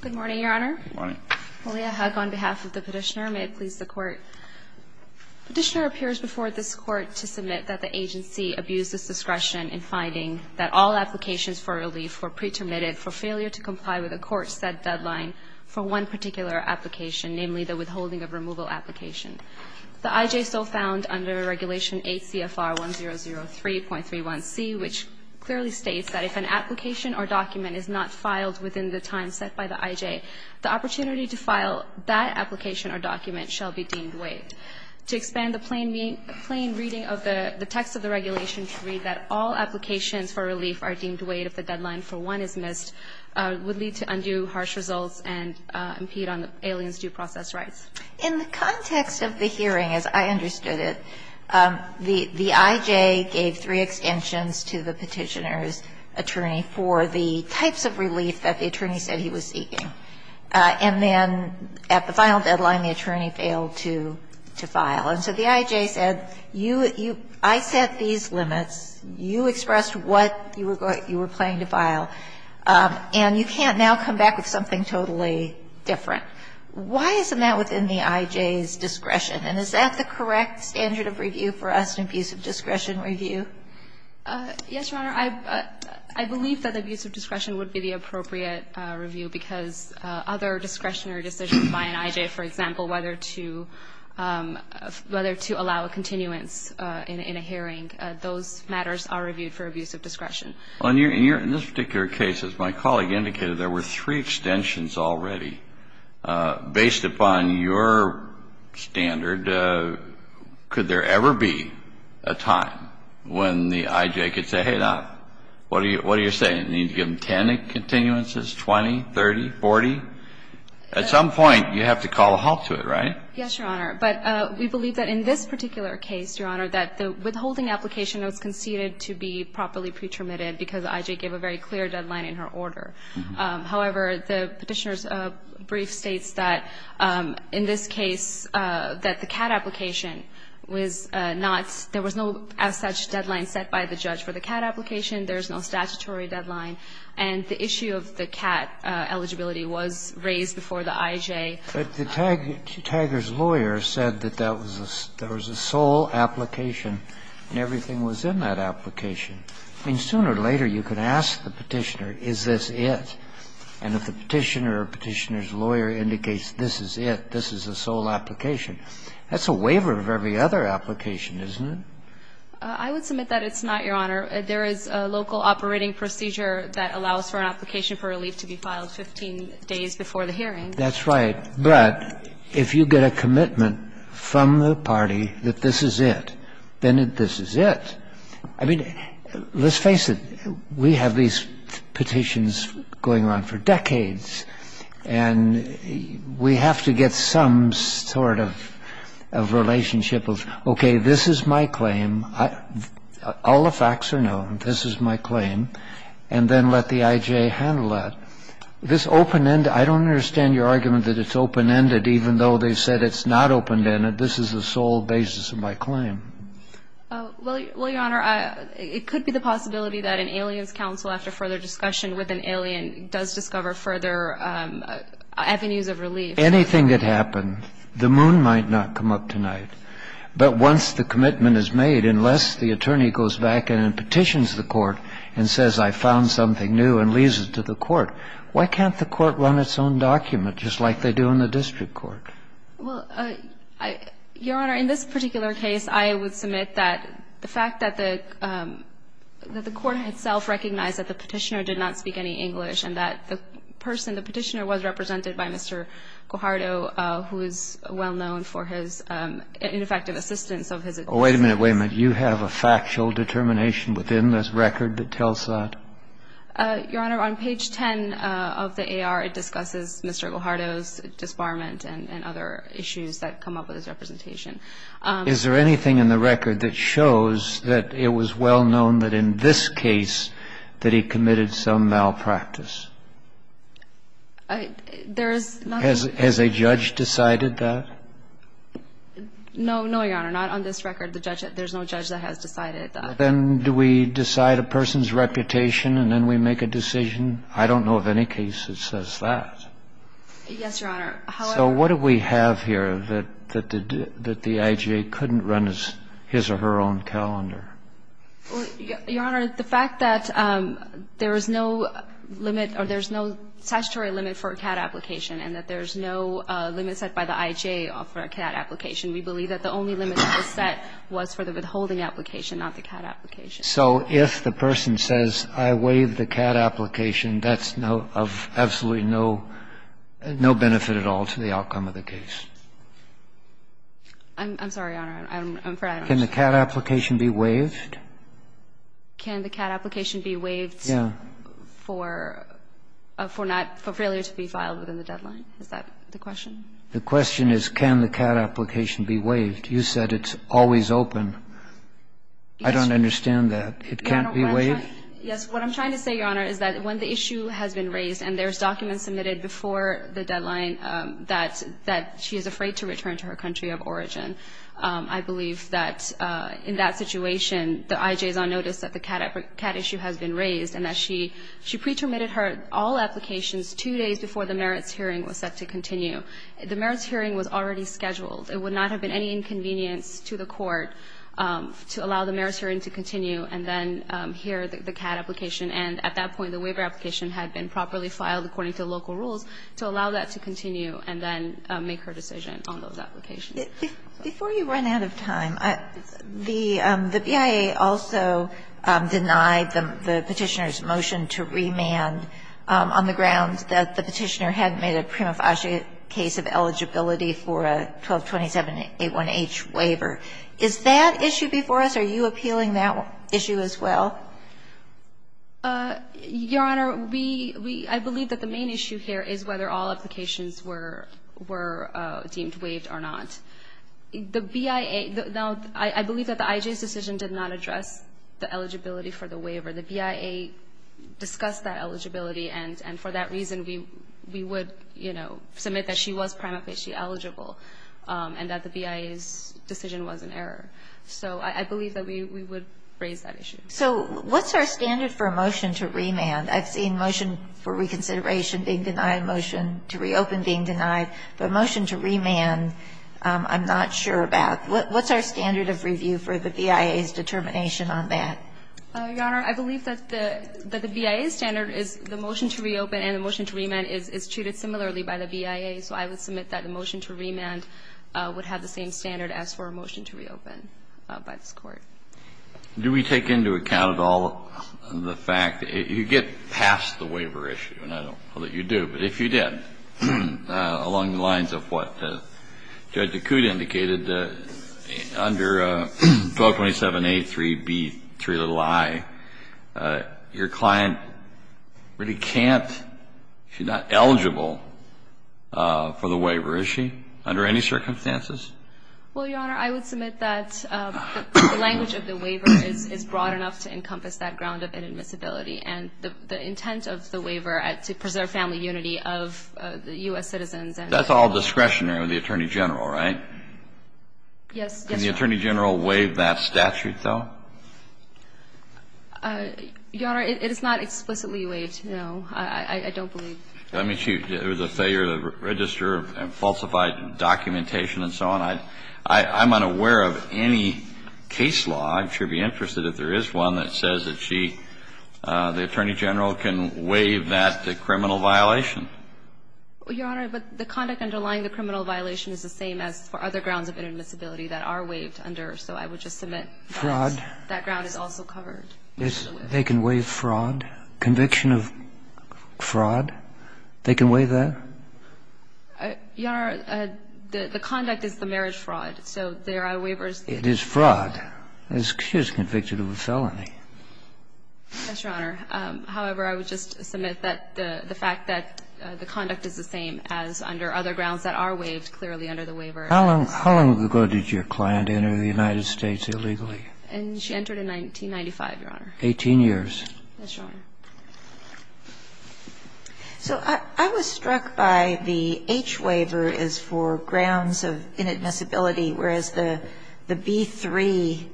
Good morning, Your Honor. Good morning. Malia Haq, on behalf of the Petitioner. May it please the Court. Petitioner appears before this Court to submit that the agency abused its discretion in finding that all applications for relief were pretermitted for failure to comply with the Court's set deadline for one particular application, namely the withholding of removal application. The IJSO found under Regulation 8 CFR 1003.31c, which clearly states that if an application or document is not filed within the time set by the IJ, the opportunity to file that application or document shall be deemed waived. To expand the plain reading of the text of the regulation to read that all applications for relief are deemed waived if the deadline for one is missed would lead to undue harsh results and impede on the alien's due process rights. In the context of the hearing, as I understood it, the IJ gave three extensions to the Petitioner's attorney for the types of relief that the attorney said he was seeking. And then at the final deadline, the attorney failed to file. And so the IJ said, I set these limits, you expressed what you were going to file, and you can't now come back with something totally different. Why isn't that within the IJ's discretion? And is that the correct standard of review for us in abuse of discretion review? Yes, Your Honor. I believe that abuse of discretion would be the appropriate review because other discretionary decisions by an IJ, for example, whether to allow a continuance in a hearing, those matters are reviewed for abuse of discretion. In this particular case, as my colleague indicated, there were three extensions already. Based upon your standard, could there ever be a time when the IJ could say, hey, now, what are you saying, you need to give them 10 continuances, 20, 30, 40? At some point, you have to call a halt to it, right? Yes, Your Honor. But we believe that in this particular case, Your Honor, that the withholding application was conceded to be properly pretermitted because the IJ gave a very clear deadline in her order. However, the Petitioner's brief states that, in this case, that the CAT application was not – there was no as such deadline set by the judge for the CAT application. There is no statutory deadline. And the issue of the CAT eligibility was raised before the IJ. But the tagger's lawyer said that that was a sole application and everything was in that application. I mean, sooner or later you could ask the Petitioner, is this it? And if the Petitioner or Petitioner's lawyer indicates this is it, this is a sole application, that's a waiver of every other application, isn't it? I would submit that it's not, Your Honor. There is a local operating procedure that allows for an application for relief to be filed 15 days before the hearing. That's right. But if you get a commitment from the party that this is it, then this is it. I mean, let's face it. We have these petitions going on for decades. And we have to get some sort of relationship of, okay, this is my claim. All the facts are known. This is my claim. And then let the IJ handle that. This open-ended – I don't understand your argument that it's open-ended even though they said it's not open-ended. This is the sole basis of my claim. Well, Your Honor, it could be the possibility that an alien's counsel, after further discussion with an alien, does discover further avenues of relief. Anything could happen. The moon might not come up tonight. But once the commitment is made, unless the attorney goes back and petitions the court and says I found something new and leaves it to the court, why can't the court run its own document just like they do in the district court? Well, Your Honor, in this particular case, I would submit that the fact that the court itself recognized that the Petitioner did not speak any English and that the person, the Petitioner, was represented by Mr. Guajardo, who is well-known for his ineffective assistance of his attorneys. Wait a minute. Wait a minute. You have a factual determination within this record that tells that? Your Honor, on page 10 of the AR, it discusses Mr. Guajardo's disbarment and other issues that come up with his representation. Is there anything in the record that shows that it was well-known that in this case that he committed some malpractice? There is nothing. Has a judge decided that? No. No, Your Honor. Not on this record. There's no judge that has decided that. Then do we decide a person's reputation and then we make a decision? I don't know of any case that says that. Yes, Your Honor. So what do we have here, that the IJA couldn't run his or her own calendar? Your Honor, the fact that there is no limit or there's no statutory limit for a CAD application and that there's no limit set by the IJA for a CAD application, we believe that the only limit that was set was for the withholding application, not the CAD application. So if the person says, I waive the CAD application, that's of absolutely no benefit at all to the outcome of the case. I'm sorry, Your Honor. Can the CAD application be waived? Can the CAD application be waived for failure to be filed within the deadline? Is that the question? The question is can the CAD application be waived. You said it's always open. I don't understand that. It can't be waived? Yes. What I'm trying to say, Your Honor, is that when the issue has been raised and there is document submitted before the deadline that she is afraid to return to her country of origin, I believe that in that situation the IJA is on notice that the CAD issue has been raised and that she pre-terminated all applications two days before the merits hearing was set to continue. The merits hearing was already scheduled. It would not have been any inconvenience to the court to allow the merits hearing to continue and then hear the CAD application. And at that point the waiver application had been properly filed according to local rules to allow that to continue and then make her decision on those applications. Before you run out of time, the BIA also denied the Petitioner's motion to remand on the grounds that the Petitioner hadn't made a prima facie case of eligibility for a 1227-81H waiver. Is that issue before us? Are you appealing that issue as well? Your Honor, we – I believe that the main issue here is whether all applications were deemed waived or not. The BIA – no, I believe that the IJA's decision did not address the eligibility for the waiver. The BIA discussed that eligibility and for that reason we would, you know, submit that she was prima facie eligible and that the BIA's decision was an error. So I believe that we would raise that issue. So what's our standard for a motion to remand? I've seen motion for reconsideration being denied, motion to reopen being denied, but a motion to remand I'm not sure about. What's our standard of review for the BIA's determination on that? Your Honor, I believe that the BIA's standard is the motion to reopen and the motion to remand is treated similarly by the BIA. So I would submit that the motion to remand would have the same standard as for a motion to reopen by this Court. Do we take into account at all the fact – you get past the waiver issue, and I don't know that you do, but if you did, along the lines of what Judge DeCute indicated, under 1227A3B3i, your client really can't – she's not eligible for the waiver, is she, under any circumstances? Well, Your Honor, I would submit that the language of the waiver is broad enough to encompass that ground of inadmissibility and the intent of the waiver to preserve family unity of U.S. citizens. That's all discretionary with the Attorney General, right? Yes. Can the Attorney General waive that statute, though? Your Honor, it is not explicitly waived, no. I don't believe. I mean, it was a failure to register and falsify documentation and so on. I'm unaware of any case law. I'd sure be interested if there is one that says that she, the Attorney General, can waive that criminal violation. Your Honor, the conduct underlying the criminal violation is the same as for other grounds of inadmissibility that are waived under. So I would just submit that that ground is also covered. Fraud. They can waive fraud, conviction of fraud. They can waive that? Your Honor, the conduct is the marriage fraud. So there are waivers. It is fraud. She was convicted of a felony. Yes, Your Honor. However, I would just submit that the fact that the conduct is the same as under other grounds that are waived clearly under the waiver. How long ago did your client enter the United States illegally? She entered in 1995, Your Honor. Eighteen years. Yes, Your Honor. So I was struck by the H waiver is for grounds of inadmissibility, whereas the B-3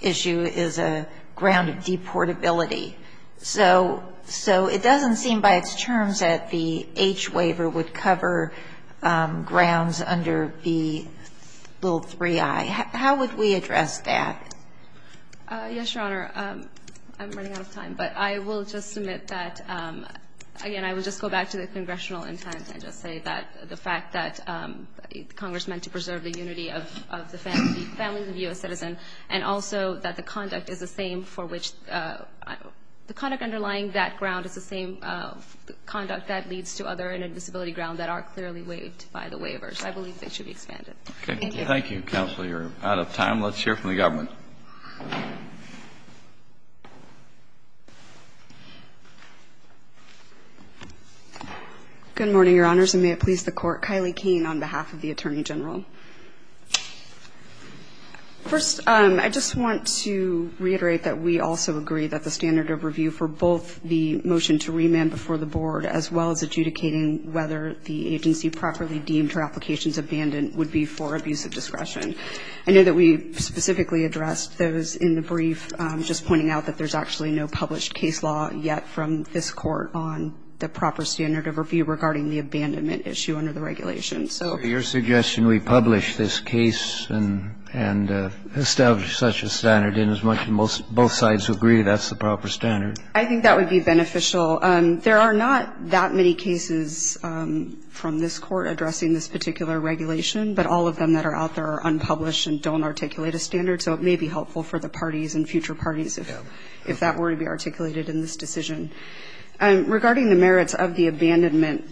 issue is a ground of deportability. So it doesn't seem by its terms that the H waiver would cover grounds under the little 3i. How would we address that? Yes, Your Honor. I'm running out of time. But I will just submit that, again, I will just go back to the congressional intent and just say that the fact that Congress meant to preserve the unity of the families of U.S. citizens and also that the conduct is the same for which the conduct underlying that ground is the same conduct that leads to other inadmissibility grounds that are clearly waived by the waivers. I believe they should be expanded. Thank you. Thank you, Counselor. You're out of time. Let's hear from the government. Good morning, Your Honors, and may it please the Court. Kylie Kane on behalf of the Attorney General. First, I just want to reiterate that we also agree that the standard of review for both the motion to remand before the Board as well as adjudicating whether the agency should be remanded. I know that we specifically addressed those in the brief, just pointing out that there's actually no published case law yet from this Court on the proper standard of review regarding the abandonment issue under the regulation. So your suggestion, we publish this case and establish such a standard in as much as both sides agree that's the proper standard. I think that would be beneficial. There are not that many cases from this Court addressing this particular regulation, but all of them that are out there are unpublished and don't articulate a standard, so it may be helpful for the parties and future parties if that were to be articulated in this decision. Regarding the merits of the abandonment,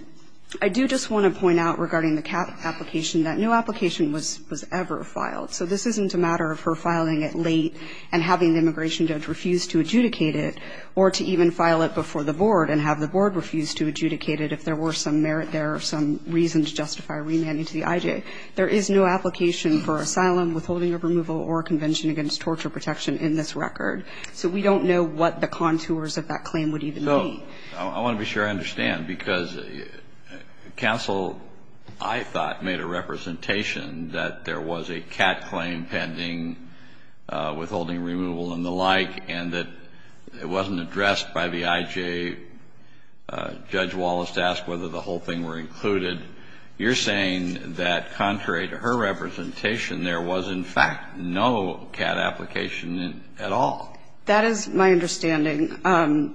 I do just want to point out regarding the cap application that no application was ever filed. So this isn't a matter of her filing it late and having the immigration judge refuse to adjudicate it or to even file it before the Board and have the Board remanding to the IJ. There is no application for asylum, withholding of removal or convention against torture protection in this record. So we don't know what the contours of that claim would even be. So I want to be sure I understand, because counsel, I thought, made a representation that there was a cap claim pending, withholding removal and the like, and that it wasn't addressed by the IJ. Judge Wallace asked whether the whole thing were included. You're saying that contrary to her representation, there was in fact no cap application at all. That is my understanding.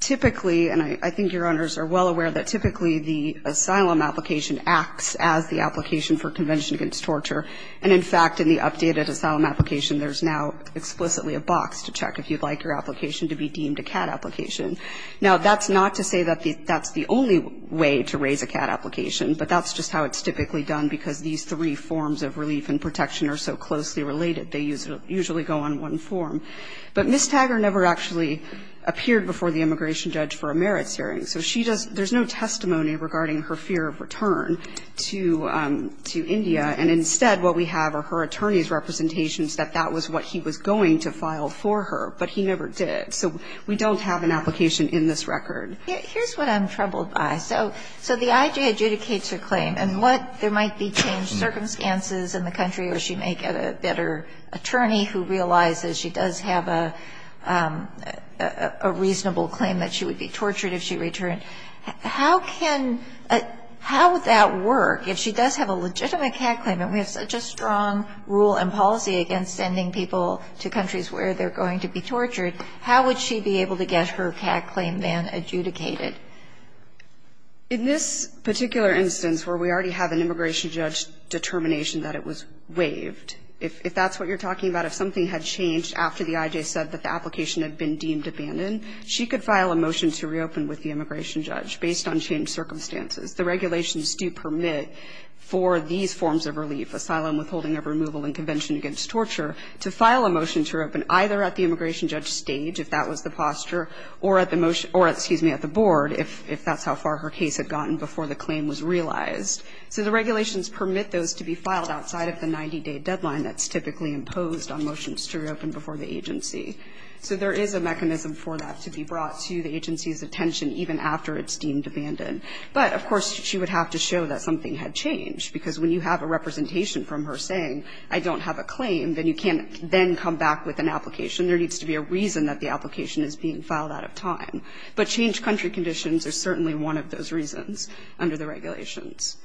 Typically, and I think Your Honors are well aware that typically the asylum application acts as the application for convention against torture. And in fact, in the updated asylum application, there's now explicitly a box to check if you'd like your application to be deemed a cap application. Now, that's not to say that that's the only way to raise a cap application, but that's just how it's typically done, because these three forms of relief and protection are so closely related. They usually go on one form. But Ms. Taggart never actually appeared before the immigration judge for a merits hearing. So she does not – there's no testimony regarding her fear of return to India. And instead, what we have are her attorney's representations that that was what he was going to file for her, but he never did. So we don't have an application in this record. Here's what I'm troubled by. So the IJ adjudicates her claim. And what – there might be changed circumstances in the country, or she may get a better attorney who realizes she does have a reasonable claim that she would be tortured if she returned. How can – how would that work if she does have a legitimate cap claim and we have such a strong rule and policy against sending people to countries where they're going to be tortured? How would she be able to get her cap claim then adjudicated? In this particular instance where we already have an immigration judge determination that it was waived, if that's what you're talking about, if something had changed after the IJ said that the application had been deemed abandoned, she could file a motion to reopen with the immigration judge based on changed circumstances. The regulations do permit for these forms of relief, asylum, withholding of removal and convention against torture, to file a motion to reopen either at the immigration judge stage, if that was the posture, or at the motion – or, excuse me, at the board if that's how far her case had gotten before the claim was realized. So the regulations permit those to be filed outside of the 90-day deadline that's typically imposed on motions to reopen before the agency. So there is a mechanism for that to be brought to the agency's attention even after it's deemed abandoned. But, of course, she would have to show that something had changed, because when you have a representation from her saying, I don't have a claim, then you can't then come back with an application. There needs to be a reason that the application is being filed out of time. But changed country conditions are certainly one of those reasons under the regulations.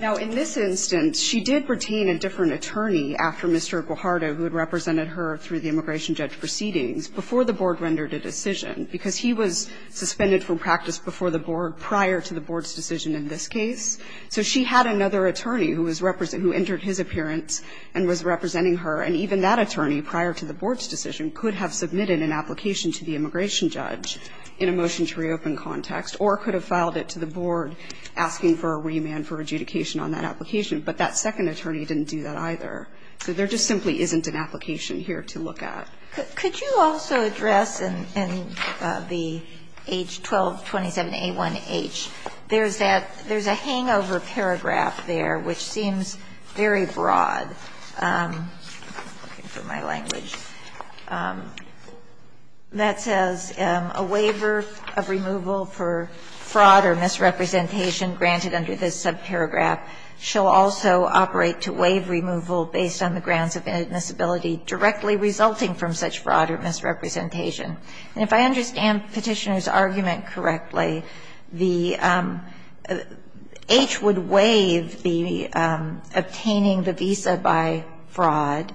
Now, in this instance, she did retain a different attorney after Mr. Guajardo, who had represented her through the immigration judge proceedings, before the board rendered a decision, because he was suspended from practice before the board prior to the board's decision in this case. So she had another attorney who was representing her, who entered his appearance and was representing her, and even that attorney, prior to the board's decision, could have submitted an application to the immigration judge in a motion to reopen context, or could have filed it to the board asking for a remand for adjudication on that application. But that second attorney didn't do that either. So there just simply isn't an application here to look at. Could you also address in the H. 1227a1h, there's that – there's a hangover paragraph there which seems very broad. I'm looking for my language. That says a waiver of removal for fraud or misrepresentation granted under this subparagraph shall also operate to waive removal based on the grounds of inadmissibility directly resulting from such fraud or misrepresentation. And if I understand Petitioner's argument correctly, the H would waive the obtaining the visa by fraud.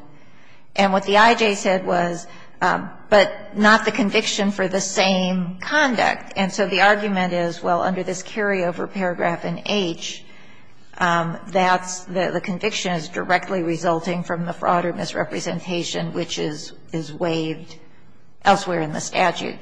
And what the I.J. said was, but not the conviction for the same conduct. And so the argument is, well, under this carryover paragraph in H, that's the conviction is directly resulting from the fraud or misrepresentation which is waived elsewhere in the statute.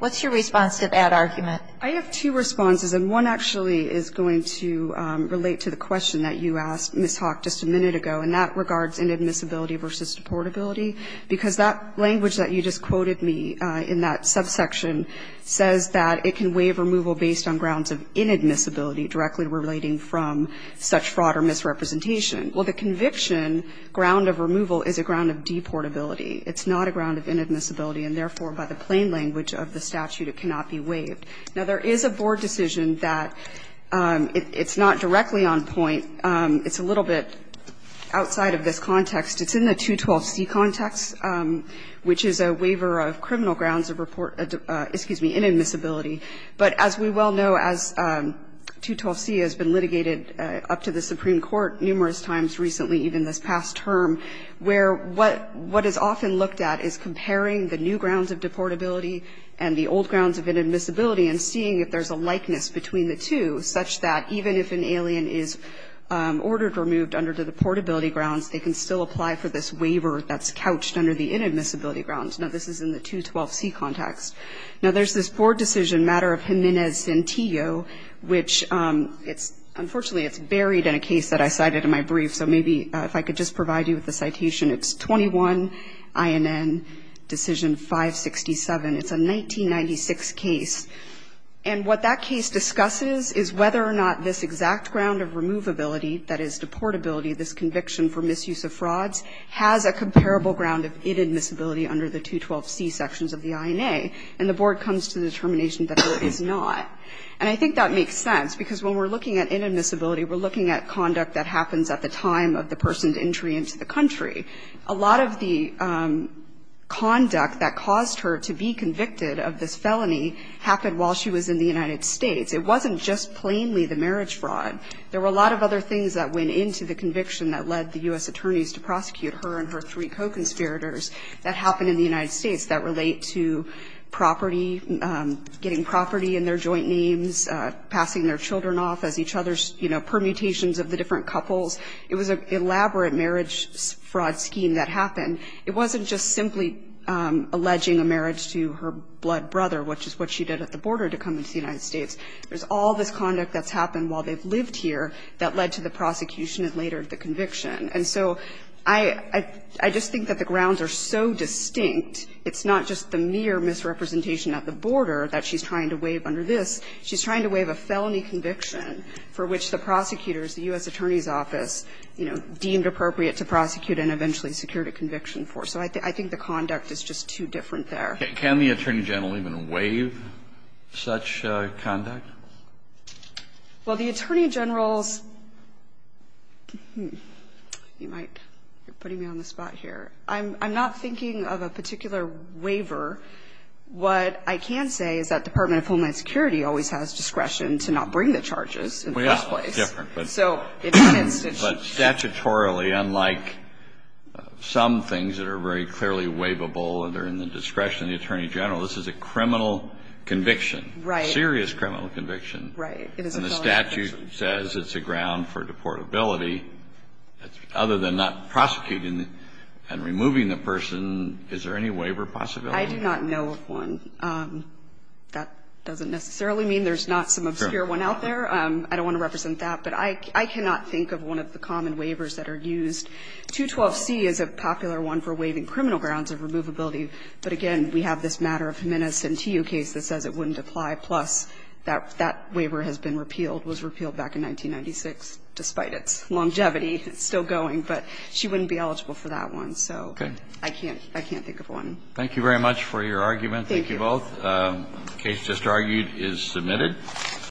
What's your response to that argument? I have two responses, and one actually is going to relate to the question that you asked, Ms. Hawk, just a minute ago, and that regards inadmissibility versus deportability, because that language that you just quoted me in that subsection says that it can waive removal based on grounds of inadmissibility directly relating to fraud or misrepresentation. Well, the conviction ground of removal is a ground of deportability. It's not a ground of inadmissibility. And therefore, by the plain language of the statute, it cannot be waived. Now, there is a board decision that it's not directly on point. It's a little bit outside of this context. It's in the 212C context, which is a waiver of criminal grounds of report, excuse me, inadmissibility. But as we well know, as 212C has been litigated up to the Supreme Court numerous times recently, even this past term, where what is often looked at is comparing the new grounds of deportability and the old grounds of inadmissibility and seeing if there's a likeness between the two such that even if an alien is ordered removed under the deportability grounds, they can still apply for this waiver that's couched under the inadmissibility grounds. Now, this is in the 212C context. Now, there's this board decision matter of Jimenez-Centillo, which it's unfortunately it's buried in a case that I cited in my brief. So maybe if I could just provide you with the citation. It's 21 INN decision 567. It's a 1996 case. And what that case discusses is whether or not this exact ground of removability, that is deportability, this conviction for misuse of frauds, has a comparable ground of inadmissibility under the 212C sections of the INA. And the board comes to the determination that it is not. And I think that makes sense, because when we're looking at inadmissibility, we're looking at conduct that happens at the time of the person's entry into the country. A lot of the conduct that caused her to be convicted of this felony happened while she was in the United States. It wasn't just plainly the marriage fraud. There were a lot of other things that went into the conviction that led the U.S. that happened in the United States that relate to property, getting property in their joint names, passing their children off as each other's, you know, permutations of the different couples. It was an elaborate marriage fraud scheme that happened. It wasn't just simply alleging a marriage to her blood brother, which is what she did at the border to come into the United States. There's all this conduct that's happened while they've lived here that led to the prosecution and later the conviction. And so I just think that the grounds are so distinct, it's not just the mere misrepresentation at the border that she's trying to waive under this. She's trying to waive a felony conviction for which the prosecutors, the U.S. Attorney's Office, you know, deemed appropriate to prosecute and eventually secured a conviction for. So I think the conduct is just too different there. Kennedy. Can the Attorney General even waive such conduct? Well, the Attorney General's, you might be putting me on the spot here. I'm not thinking of a particular waiver. What I can say is that Department of Homeland Security always has discretion to not bring the charges in the first place. Well, yeah, it's different. But statutorily, unlike some things that are very clearly waivable and they're in the discretion of the Attorney General, this is a criminal conviction. Right. It's a serious criminal conviction. Right. It is a felony conviction. And the statute says it's a ground for deportability. Other than not prosecuting and removing the person, is there any waiver possibility? I do not know of one. That doesn't necessarily mean there's not some obscure one out there. I don't want to represent that. But I cannot think of one of the common waivers that are used. 212C is a popular one for waiving criminal grounds of removability. But, again, we have this matter of Jimenez-Sentiu case that says it wouldn't apply. Plus, that waiver has been repealed, was repealed back in 1996, despite its longevity. It's still going. But she wouldn't be eligible for that one. So I can't think of one. Thank you very much for your argument. Thank you. Thank you both. The case just argued is submitted.